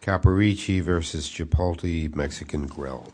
Caporicci v. Chipotle Mexican Grill. Caporicci v. Chipotle Mexican Grill.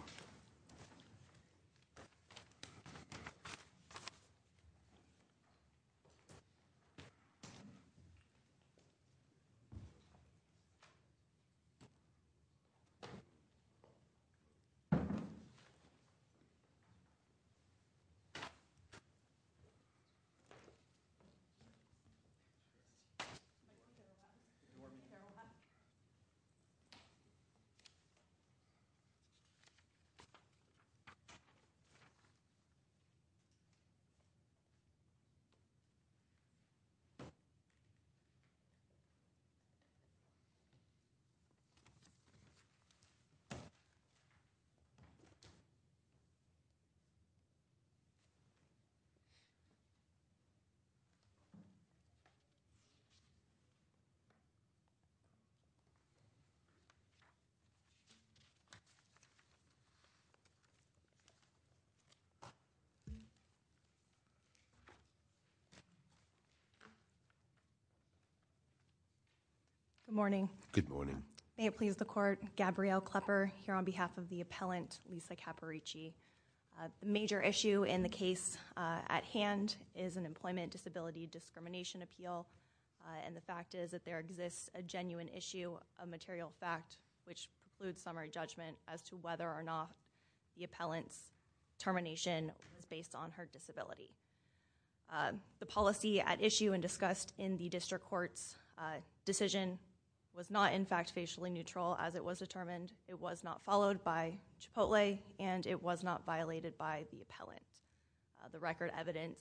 Good morning, may it please the court, Gabrielle Klepper here on behalf of the appellant Lisa Caporicci. A major issue in the case at hand is an employment disability discrimination appeal and the fact is that there exists a genuine issue, a material fact, which includes summary judgment as to whether or not the appellant's termination is based on her disability. The policy at issue and discussed in the district court's decision was not in fact facially neutral as it was determined. It was not followed by Chipotle and it was not violated by the appellant. The record evidence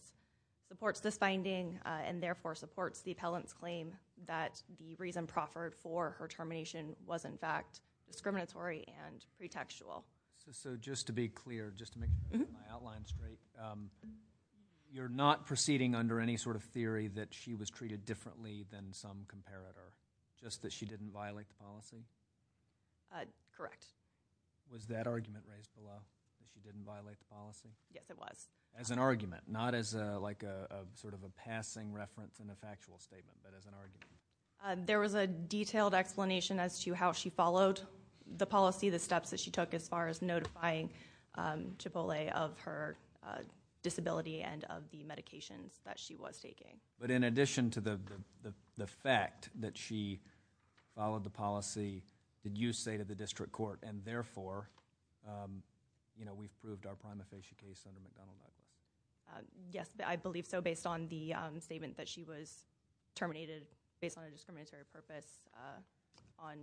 supports this finding and therefore supports the appellant's claim that the reason proffered for her termination was in fact discriminatory and pretextual. Just to be clear, just to make my outline straight, you're not proceeding under any sort of theory that she was treated differently than some comparator, just that she didn't violate the policy? Correct. Was that argument raised a lot? That she didn't violate the policy? Yes, it was. As an argument, not as a passing reference in a factual statement, but as an argument. There was a detailed explanation as to how she followed the policy, the steps that she took as far as notifying Chipotle of her disability and of the medications that she was taking. In addition to the fact that she followed the policy, did you say to the district court and therefore we proved our prima facie case in the McDonnell case? Yes, I believe so based on the statement that she was terminated based on a discriminatory purpose on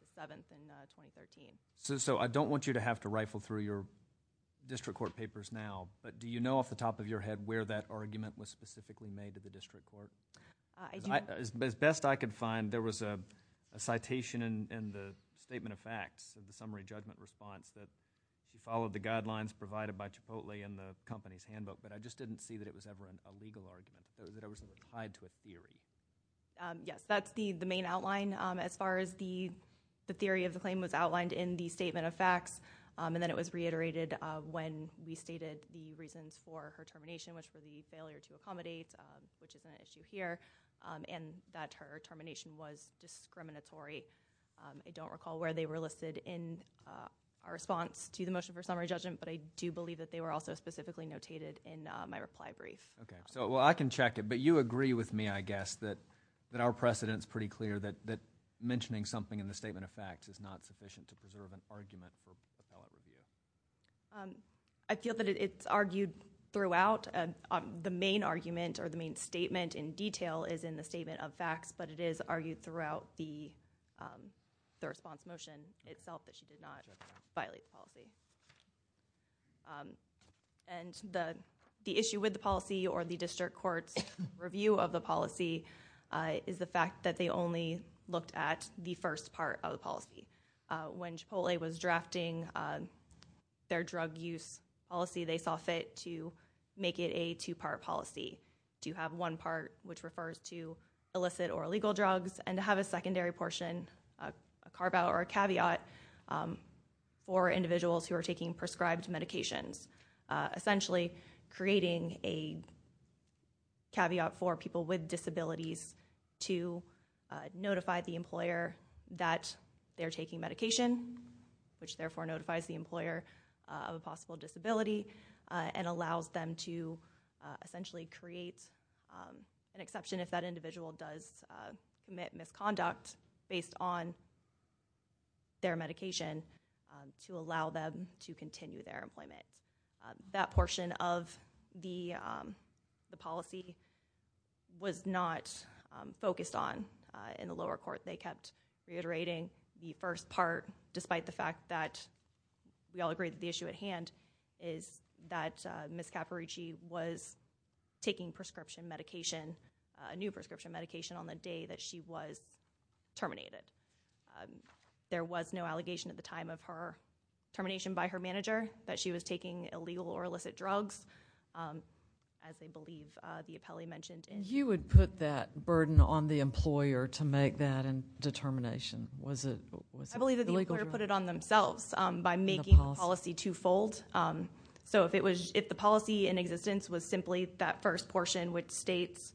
the 7th in 2013. I don't want you to have to rifle through your district court papers now, but do you know off the top of your head where that argument was specifically made to the district court? As best I could find, there was a citation in the statement of facts of the summary judgment response that followed the guidelines provided by Chipotle in the company's handbook, but I just didn't see that it was ever a legal argument, that it was ever tied to a theory. Yes, that's the main outline as far as the theory of the claim was outlined in the statement of facts, and then it was reiterated when we stated the reasons for her termination, very much for the failure to accommodate, which is an issue here, and that her termination was discriminatory. I don't recall where they were listed in our response to the motion for summary judgment, but I do believe that they were also specifically notated in my reply brief. Okay. Well, I can check it, but you agree with me, I guess, that our precedent's pretty clear that mentioning something in the statement of facts is not sufficient to preserve an argument for appellate review. I feel that it's argued throughout. The main argument or the main statement in detail is in the statement of facts, but it is argued throughout the response motion itself that she did not violate the policy, and the issue with the policy or the district court's review of the policy is the fact that they When Chipotle was drafting their drug use policy, they saw fit to make it a two-part policy, to have one part, which refers to illicit or illegal drugs, and to have a secondary portion, a carve-out or a caveat, for individuals who are taking prescribed medications, essentially creating a caveat for people with disabilities to notify the employer that they're taking medication, which therefore notifies the employer of a possible disability and allows them to essentially create an exception if that individual does commit misconduct based on their medication to allow them to continue their employment. That portion of the policy was not focused on in the lower court. They kept reiterating the first part, despite the fact that we all agree that the issue at hand is that Ms. Capparici was taking prescription medication, a new prescription medication, on the day that she was terminated. There was no allegation at the time of her termination by her manager that she was taking illegal or illicit drugs, as they believe the appellee mentioned. You would put that burden on the employer to make that determination? I believe that the employer put it on themselves by making the policy two-fold. If the policy in existence was simply that first portion, which states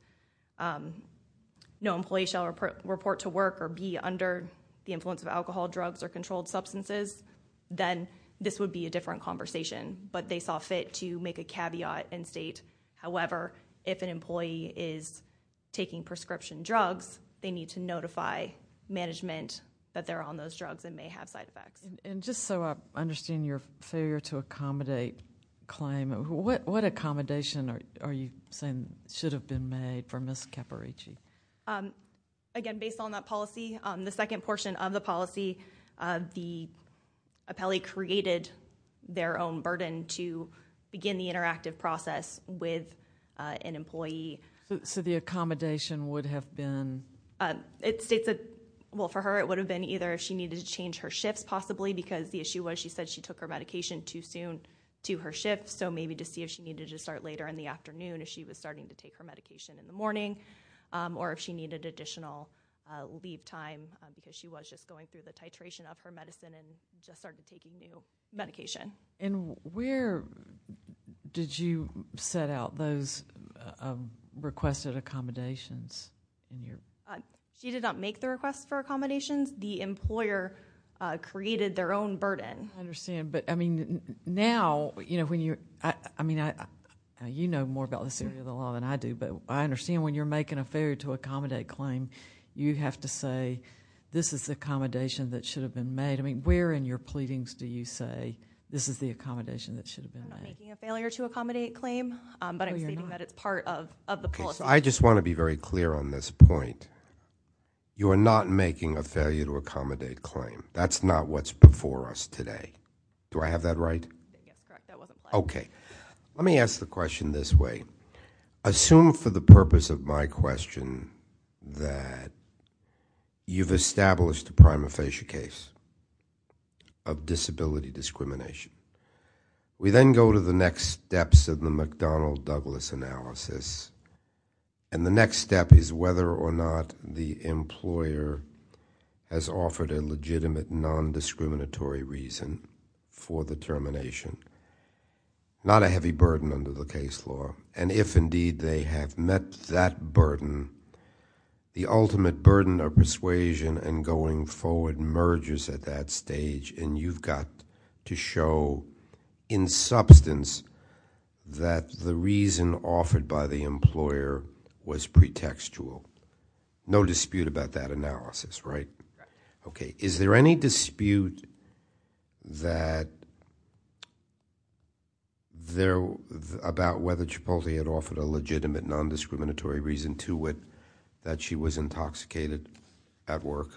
no employee shall report to work or be under the influence of alcohol, drugs, or controlled substances, then this would be a different conversation. They saw fit to make a caveat and state, however, if an employee is taking prescription drugs, they need to notify management that they're on those drugs and may have side effects. I understand your failure to accommodate claim. What accommodation are you saying should have been made for Ms. Capparici? Again, based on that policy, the second portion of the policy, the appellee created their own burden to begin the interactive process with an employee. The accommodation would have been? For her, it would have been either she needed to change her shifts, possibly, because the she needed to start later in the afternoon if she was starting to take her medication in the morning, or if she needed additional leave time because she was just going through the titration of her medicine and just started taking medication. Where did you set out those requested accommodations? She did not make the request for accommodations. The employer created their own burden. I understand. You know more about this area of the law than I do, but I understand when you're making a failure to accommodate claim, you have to say, this is the accommodation that should have been made. Where in your pleadings do you say, this is the accommodation that should have been made? I'm not making a failure to accommodate claim, but I'm stating that it's part of the policy. I just want to be very clear on this point. You are not making a failure to accommodate claim. That's not what's before us today. Do I have that right? Okay. Let me ask the question this way. Assume for the purpose of my question that you've established a prima facie case of disability discrimination. We then go to the next steps of the McDonnell-Douglas analysis, and the next step is whether or not there is an ultimate non-discriminatory reason for the termination. Not a heavy burden under the case law, and if indeed they have met that burden, the ultimate burden of persuasion and going forward merges at that stage, and you've got to show in substance that the reason offered by the employer was pretextual. No dispute about that analysis, right? Right. Okay. Is there any dispute about whether Chipotle had offered a legitimate non-discriminatory reason to it that she was intoxicated at work?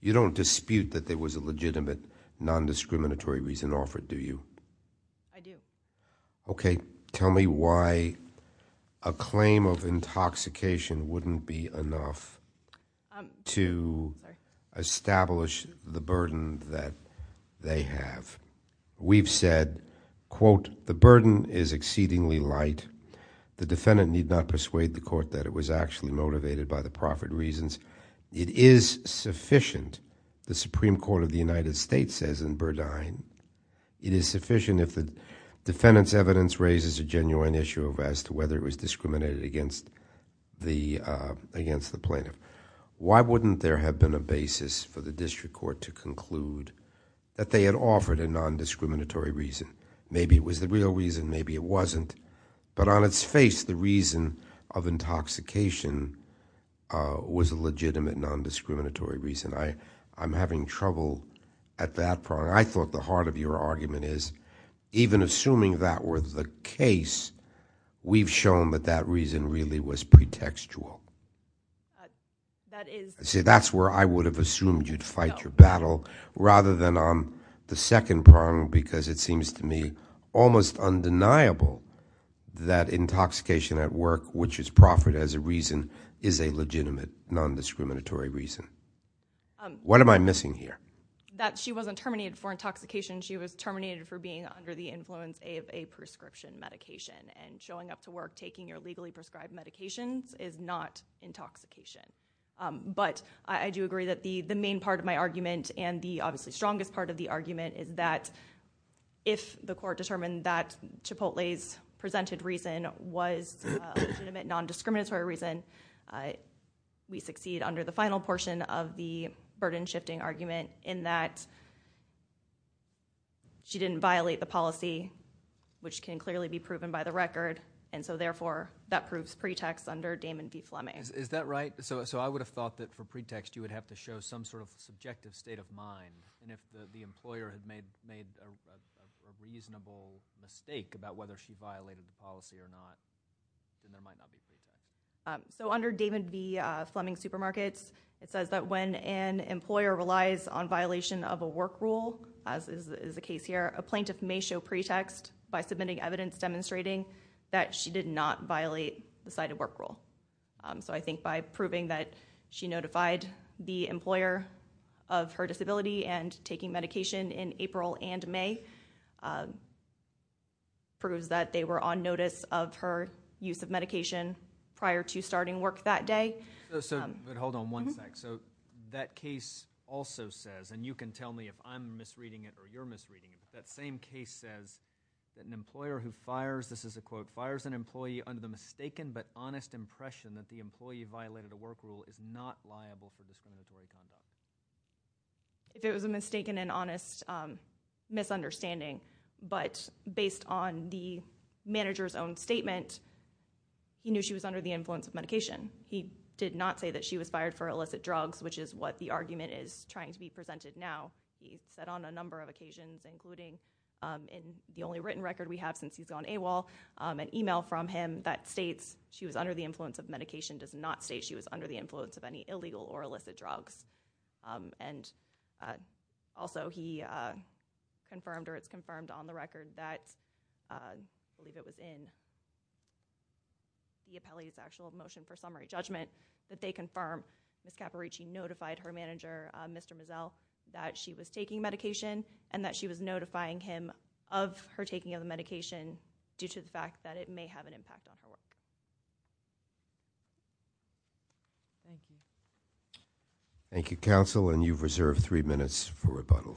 You don't dispute that there was a legitimate non-discriminatory reason offered, do you? I do. Okay. Could you tell me why a claim of intoxication wouldn't be enough to establish the burden that they have? We've said, quote, the burden is exceedingly light. The defendant need not persuade the court that it was actually motivated by the profit reasons. It is sufficient, the Supreme Court of the United States says in Burdine, it is sufficient if the defendant's evidence raises a genuine issue as to whether it was discriminated against the plaintiff. Why wouldn't there have been a basis for the district court to conclude that they had offered a non-discriminatory reason? Maybe it was the real reason, maybe it wasn't, but on its face, the reason of intoxication was a legitimate non-discriminatory reason. I'm having trouble at that point. I thought the heart of your argument is even assuming that were the case, we've shown that that reason really was pretextual. That is- See, that's where I would have assumed you'd fight your battle rather than on the second prong because it seems to me almost undeniable that intoxication at work, which is proffered as a reason, is a legitimate non-discriminatory reason. What am I missing here? That she wasn't terminated for intoxication, she was terminated for being under the influence of a prescription medication and showing up to work taking your legally prescribed medications is not intoxication. I do agree that the main part of my argument and the obviously strongest part of the argument is that if the court determined that Chipotle's presented reason was a legitimate non-discriminatory reason, we succeed under the final portion of the burden shifting argument in that she didn't violate the policy, which can clearly be proven by the record. Therefore, that proves pretext under Damon v. Fleming. Is that right? I would have thought that for pretext, you would have to show some sort of subjective state of mind. If the employer had made a reasonable mistake about whether she violated the policy or not, then there might not be a case. Under Damon v. Fleming Supermarkets, it says that when an employer relies on violation of a work rule, as is the case here, a plaintiff may show pretext by submitting evidence demonstrating that she did not violate the cited work rule. I think by proving that she notified the employer of her disability and taking medication in prior to starting work that day. Hold on one sec. That case also says, and you can tell me if I'm misreading it or you're misreading it, that same case says that an employer who fires, this is a quote, fires an employee under the mistaken but honest impression that the employee violated a work rule is not liable for discriminatory conduct. If it was a mistaken and honest misunderstanding, but based on the manager's own statement, he knew she was under the influence of medication. He did not say that she was fired for illicit drugs, which is what the argument is trying to be presented now. He said on a number of occasions, including in the only written record we have since he's gone AWOL, an email from him that states she was under the influence of medication does not state she was under the influence of any illegal or illicit drugs. And also he confirmed or it's confirmed on the record that, I believe it was in the appellee's actual motion for summary judgment, that they confirm Ms. Caparici notified her manager, Mr. Mazzel, that she was taking medication and that she was notifying him of her taking of the medication due to the fact that it may have an impact on her work. Thank you, counsel. And you've reserved three minutes for rebuttal.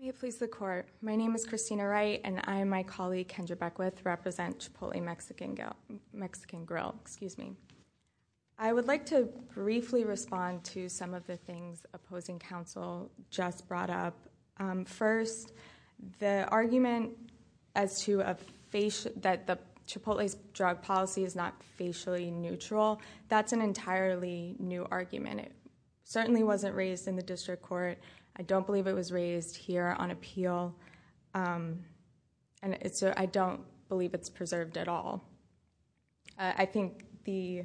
May it please the court. My name is Christina Wright, and I and my colleague, Kendra Beckwith, represent Chipotle Mexican Grill. I would like to briefly respond to some of the things opposing counsel just brought up. First, the argument that Chipotle's drug policy is not facially neutral, that's an entirely new argument. It certainly wasn't raised in the district court. I don't believe it was raised here on appeal. I don't believe it's preserved at all. I think the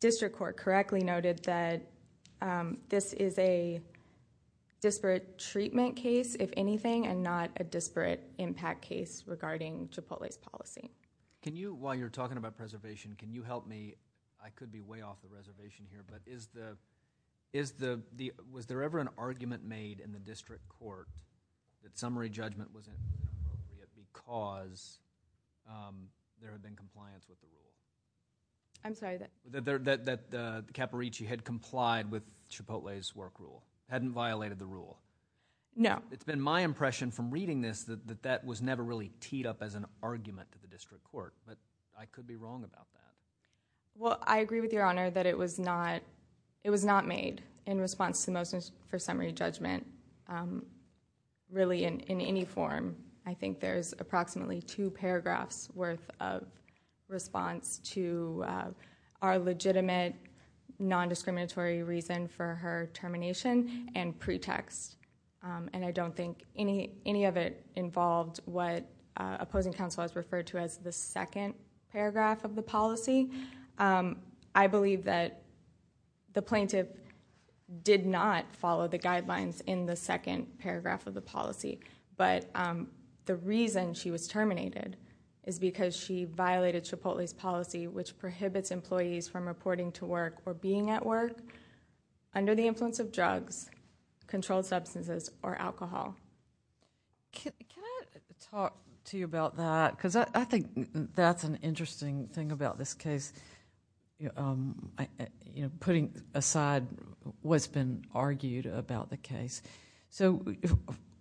district court correctly noted that this is a disparate treatment case, if anything, and not a disparate impact case regarding Chipotle's policy. Can you, while you're talking about preservation, can you help me, I could be way off the reservation here, but is the... was there ever an argument made in the district court that summary judgment was inappropriate because there had been compliance with the rule? I'm sorry, that... That Capparicci had complied with Chipotle's work rule, hadn't violated the rule. No. It's been my impression from reading this that that was never really teed up as an argument to the district court, but I could be wrong about that. I agree with Your Honor that it was not made in response to the motion for summary judgment. Really, in any form, I think there's approximately two paragraphs worth of response to our legitimate non-discriminatory reason for her termination and pretext. I don't think any of it involved what opposing counsel has referred to as the second paragraph of the policy. I believe that the plaintiff did not follow the guidelines in the second paragraph of the policy, but the reason she was terminated is because she violated Chipotle's policy, which prohibits employees from reporting to work or being at work under the influence of drugs, controlled substances, or alcohol. Can I talk to you about that? I think that's an interesting thing about this case, putting aside what's been argued about the case.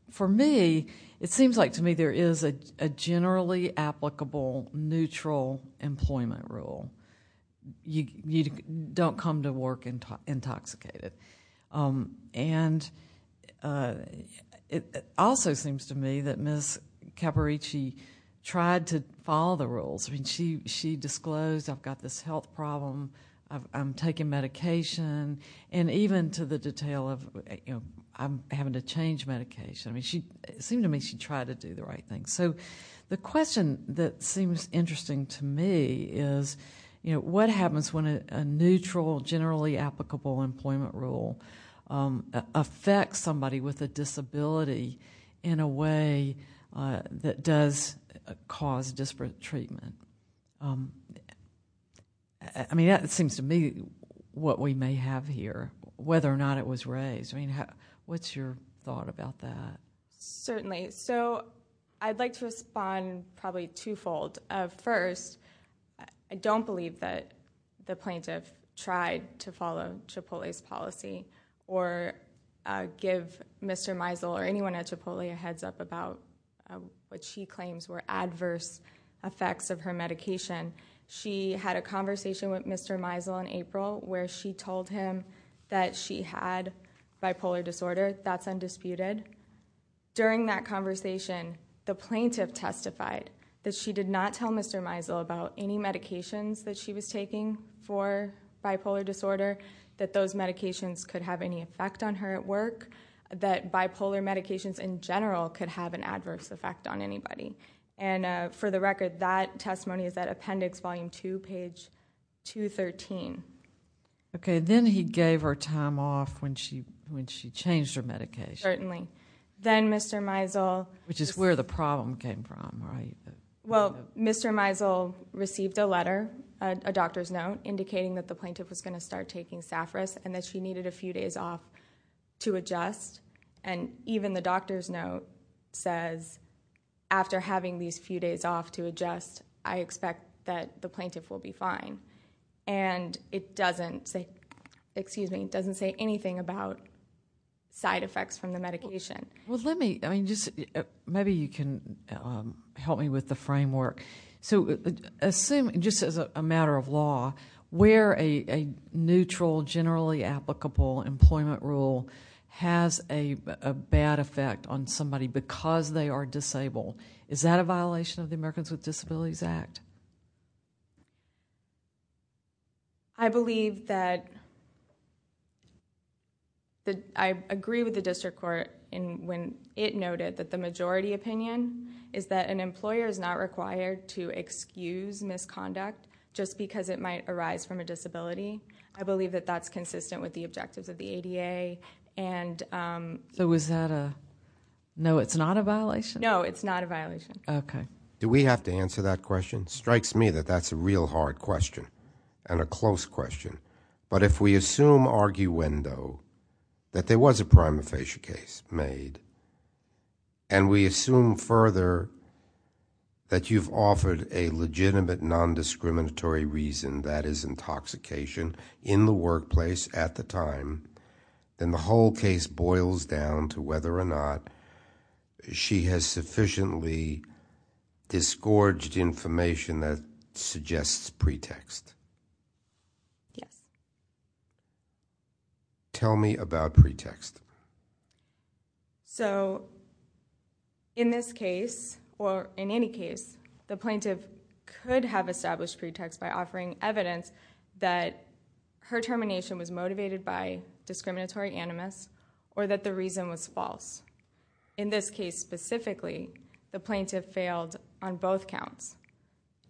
For me, it seems like to me there is a generally applicable neutral employment rule. You don't come to work intoxicated. It also seems to me that Ms. Caparici tried to follow the rules. She disclosed, I've got this health problem, I'm taking medication, and even to the detail of I'm having to change medication. It seemed to me she tried to do the right thing. The question that seems interesting to me is what happens when a neutral, generally applicable employment rule affects somebody with a disability in a way that does cause disparate treatment? That seems to me what we may have here, whether or not it was raised. What's your thought about that? Certainly. I'd like to respond probably twofold. First, I don't believe that the plaintiff tried to follow Chipotle's policy or give Mr. Meisel or anyone at Chipotle a heads up about what she claims were adverse effects of her medication. She had a conversation with Mr. Meisel in April where she told him that she had bipolar disorder. That's undisputed. During that conversation, the plaintiff testified that she did not tell Mr. Meisel about any medications that she was taking for bipolar disorder, that those medications could have any effect on her at work, that bipolar medications in general could have an adverse effect on anybody. For the record, that testimony is at Appendix Volume 2, page 213. Okay. Then he gave her time off when she changed her medication. Certainly. Then Mr. Meisel... Which is where the problem came from, right? Well, Mr. Meisel received a letter, a doctor's note, indicating that the plaintiff was going to start taking Safras and that she needed a few days off to adjust. Even the doctor's note says, after having these few days off to adjust, I expect that the plaintiff will be fine. It doesn't say anything about side effects from the medication. Maybe you can help me with the framework. Assume, just as a matter of law, where a neutral, generally applicable employment rule has a bad effect on somebody because they are disabled. Is that a violation of the Americans with Disabilities Act? I believe that... I agree with the district court when it noted that the majority opinion is that an employer is not required to excuse misconduct just because it might arise from a disability. I believe that that's consistent with the objectives of the ADA. Was that a... No, it's not a violation? No, it's not a violation. Okay. Do we have to answer that question? It strikes me that that's a real hard question and a close question. If we assume arguendo that there was a prima facie case made and we assume further that you've offered a legitimate non-discriminatory reason, that is intoxication, in the workplace at the time, then the whole case boils down to whether or not she has sufficiently disgorged information that suggests pretext. Yes. Tell me about pretext. So, in this case, or in any case, the plaintiff could have established pretext by offering evidence that her termination was motivated by discriminatory animus or that the reason was false. In this case, specifically, the plaintiff failed on both counts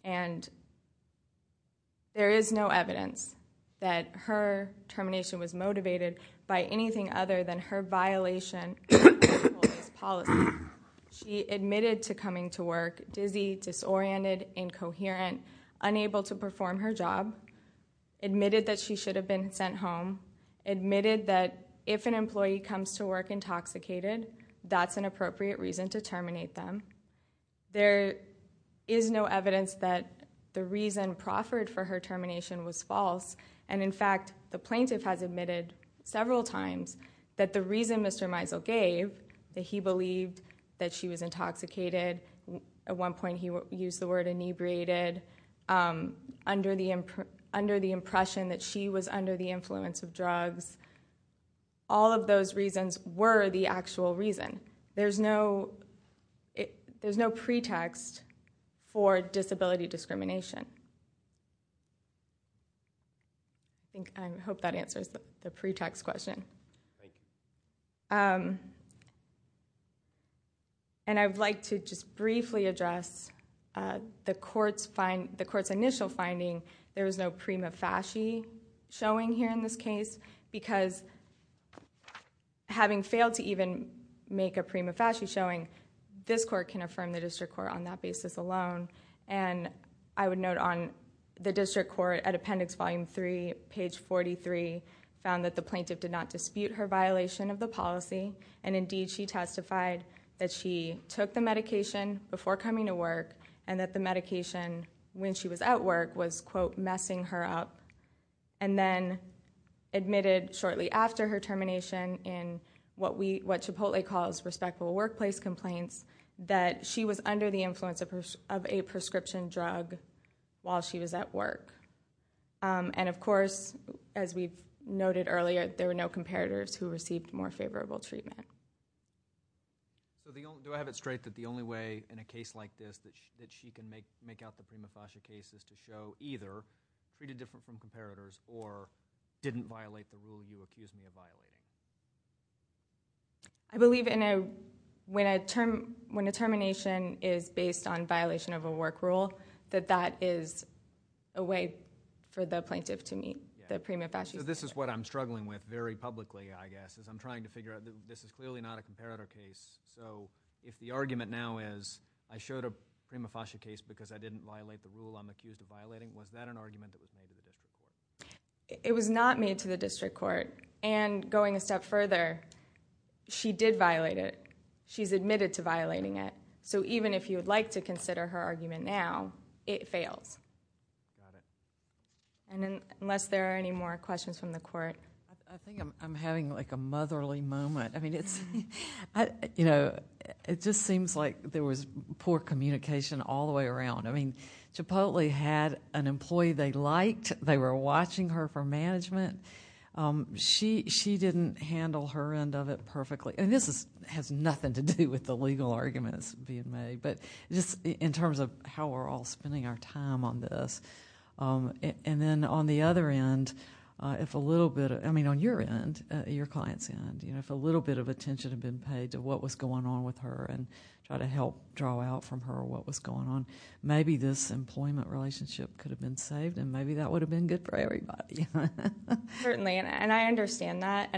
and there is no evidence that her termination was motivated by anything other than her violation of the employee's policy. She admitted to coming to work dizzy, disoriented, incoherent, unable to perform her job, admitted that she should have been sent home, admitted that if an employee comes to work intoxicated, that's an appropriate reason to terminate them. There is no evidence that the reason proffered for her termination was false and, in fact, the plaintiff has admitted several times that the reason Mr. Meisel gave, that he believed that she was intoxicated, at one point he used the word inebriated, under the impression that she was under the influence of drugs. All of those reasons were the actual reason. There is no pretext for disability discrimination. I hope that answers the pretext question. I would like to just briefly address the court's initial finding. There was no prima facie showing here in this case because, having failed to even make a prima facie showing, this court can affirm the district court on that basis alone. I would note on the district court, at appendix volume three, page 43, found that the plaintiff did not dispute her violation of the policy and, indeed, she testified that she took the medication before coming to work and that the medication, when she was at work, was quote, messing her up and then admitted shortly after her termination in what Chipotle calls respectable workplace complaints, that she was under the influence of a prescription drug while she was at work. Of course, as we've noted earlier, there were no comparators who received more favorable treatment. Do I have it straight that the only way in a case like this that she can make out the prima facie case is to show either treated different from comparators or didn't violate the rule you accused me of violating? I believe when a termination is based on violation of a work rule, that that is a way for the plaintiff to meet the prima facie. This is what I'm struggling with very publicly, I guess, is I'm trying to figure out this is clearly not a comparator case. If the argument now is I showed a prima facie case because I didn't violate the rule I'm accused of violating, was that an argument that was made to the district court? Going a step further, she did violate it. She's admitted to violating it. Even if you would like to consider her argument now, it fails. Unless there are any more questions from the court. I think I'm having a motherly moment. It just seems like there was poor communication all the way around. Chipotle had an employee they liked. They were watching her for management. She didn't handle her end of it perfectly. This has nothing to do with the legal arguments being made, but just in terms of how we're all spending our time on this. Then on the other end, if a little bit, I mean on your end, your client's end, if a little bit of attention had been paid to what was going on with her and try to help draw out from her what was going on, maybe this employment relationship could have been saved and maybe that would have been good for everybody. Certainly, and I understand that.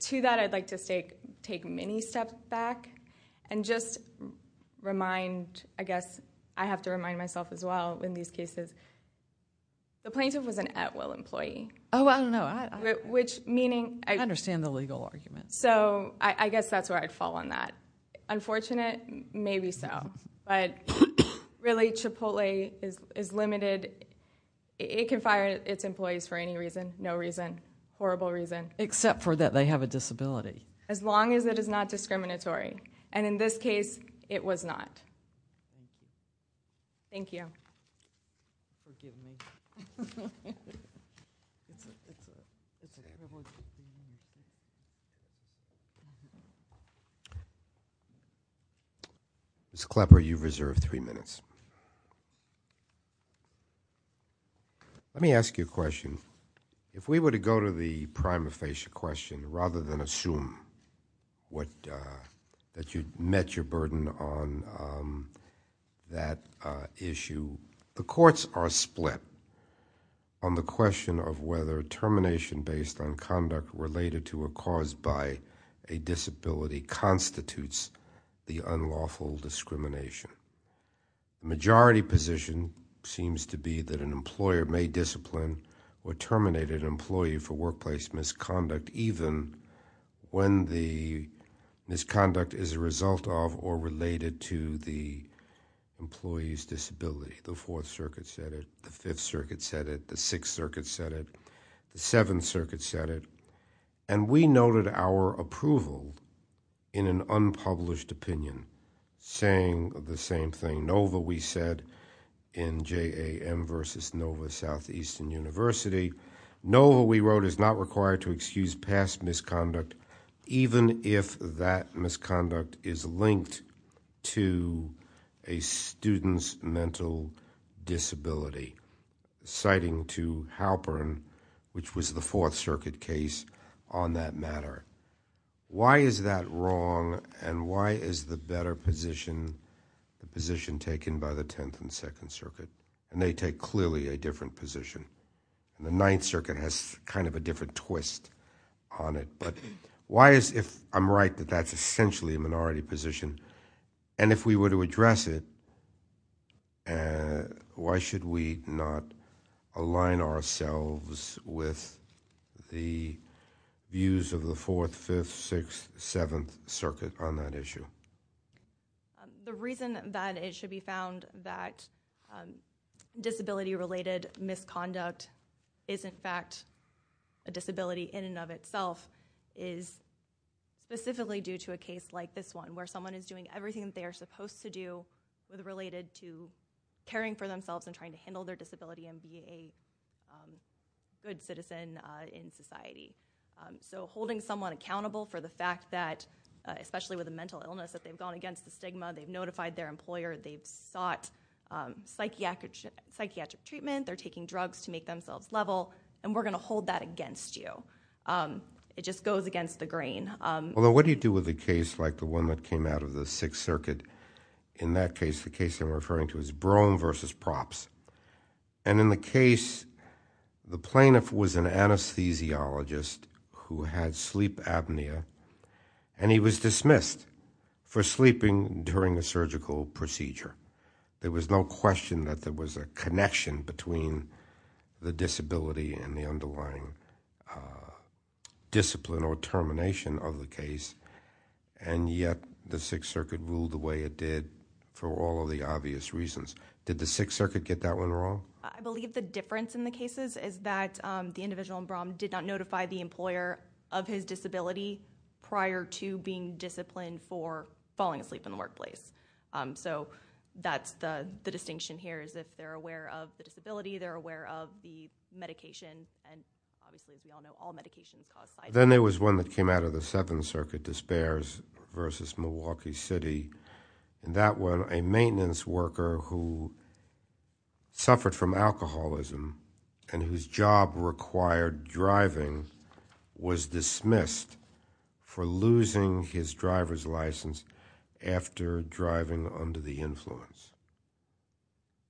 To that, I'd like to take many steps back and just remind, I guess I have to remind myself as well in these cases, the plaintiff was an at-will employee. Oh, I don't know. I understand the legal arguments. I guess that's where I'd fall on that. Unfortunate, maybe so. Really, Chipotle is limited. It can fire its employees for any reason, no reason, horrible reason. Except for that they have a disability. As long as it is not discriminatory. In this case, it was not. Thank you. Ms. Klepper, you've reserved three minutes. Let me ask you a question. If we were to go to the prima facie question, rather than assume that you met your burden on that issue, the courts are split on the question of whether termination based on conduct related to or caused by a disability constitutes the unlawful discrimination. Majority position seems to be that an employer may discipline or terminate an employee for workplace misconduct even when the misconduct is a result of or related to the employee's disability. The Fourth Circuit said it. The Fifth Circuit said it. The Sixth Circuit said it. The Seventh Circuit said it. And we noted our approval in an unpublished opinion saying the same thing. NOVA we said in JAM versus NOVA Southeastern University, NOVA we wrote is not required to excuse past misconduct even if that misconduct is linked to a student's mental disability. Citing to Halpern, which was the Fourth Circuit case on that matter. Why is that wrong and why is the better position, the position taken by the Tenth and Second Circuit? And they take clearly a different position. The Ninth Circuit has kind of a different twist on it. Why is it I'm right that that's essentially a minority position? And if we were to address it, why should we not align ourselves with the views of the Fourth, Fifth, Sixth, Seventh Circuit on that issue? The reason that it should be found that disability-related misconduct is in fact a disability in and of itself is specifically due to a case like this one where someone is doing everything that they are supposed to do related to caring for themselves and trying to handle their disability and being a good citizen in society. So holding someone accountable for the fact that, especially with a mental illness, that they've gone against the stigma, they've notified their employer, they've sought psychiatric treatment, they're taking drugs to make themselves level, and we're going to hold that against you. It just goes against the grain. Although, what do you do with a case like the one that came out of the Sixth Circuit? In that case, the case I'm referring to is Broome v. Props. And in the case, the plaintiff was an anesthesiologist who had sleep apnea, and he was dismissed for sleeping during a surgical procedure. There was no question that there was a connection between the disability and the underlying discipline or termination of the case, and yet the Sixth Circuit ruled the way it did for all of the obvious reasons. Did the Sixth Circuit get that one wrong? I believe the difference in the cases is that the individual in Broome did not notify the employer of his disability prior to being disciplined for falling asleep in the workplace. So, that's the distinction here, is that they're aware of the disability, they're aware of the medication, and obviously, as we all know, all medications cause sleep apnea. Then there was one that came out of the Seventh Circuit, Despairs v. Milwaukee City. In that one, a maintenance worker who suffered from alcoholism and whose job required driving was dismissed for losing his driver's license after driving under the influence.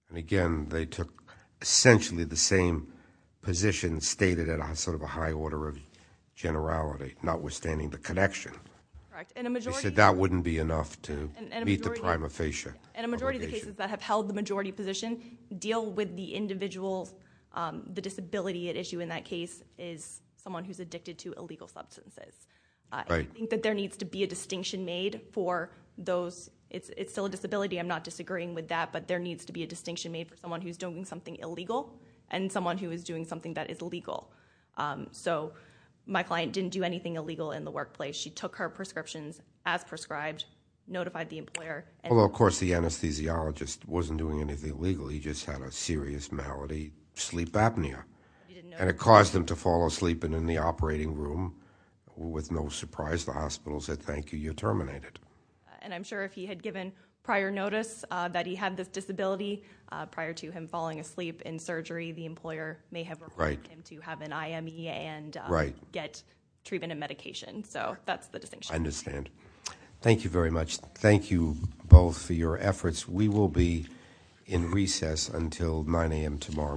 And again, they took essentially the same position stated in sort of a high order of generality, notwithstanding the connection. They said that wouldn't be enough to meet the prima facie obligation. In a majority of the cases that have held the majority position, deal with the individual, the disability at issue in that case is someone who's addicted to illegal substances. I think that there needs to be a distinction made for those. It's still a disability. I'm not disagreeing with that, but there needs to be a distinction made for someone who's doing something illegal and someone who is doing something that is legal. So, my client didn't do anything illegal in the workplace. She took her prescriptions as prescribed, notified the employer. Although, of course, the anesthesiologist wasn't doing anything illegal. He just had a serious malady, sleep apnea. And it caused him to fall asleep. And in the operating room, with no surprise, the hospital said, thank you, you're terminated. And I'm sure if he had given prior notice that he had this disability prior to him falling asleep in surgery, the employer may have required him to have an IME and get treatment and medication. So, that's the distinction. I understand. Thank you very much. Thank you both for your efforts. We will be in recess until 9 a.m. tomorrow morning.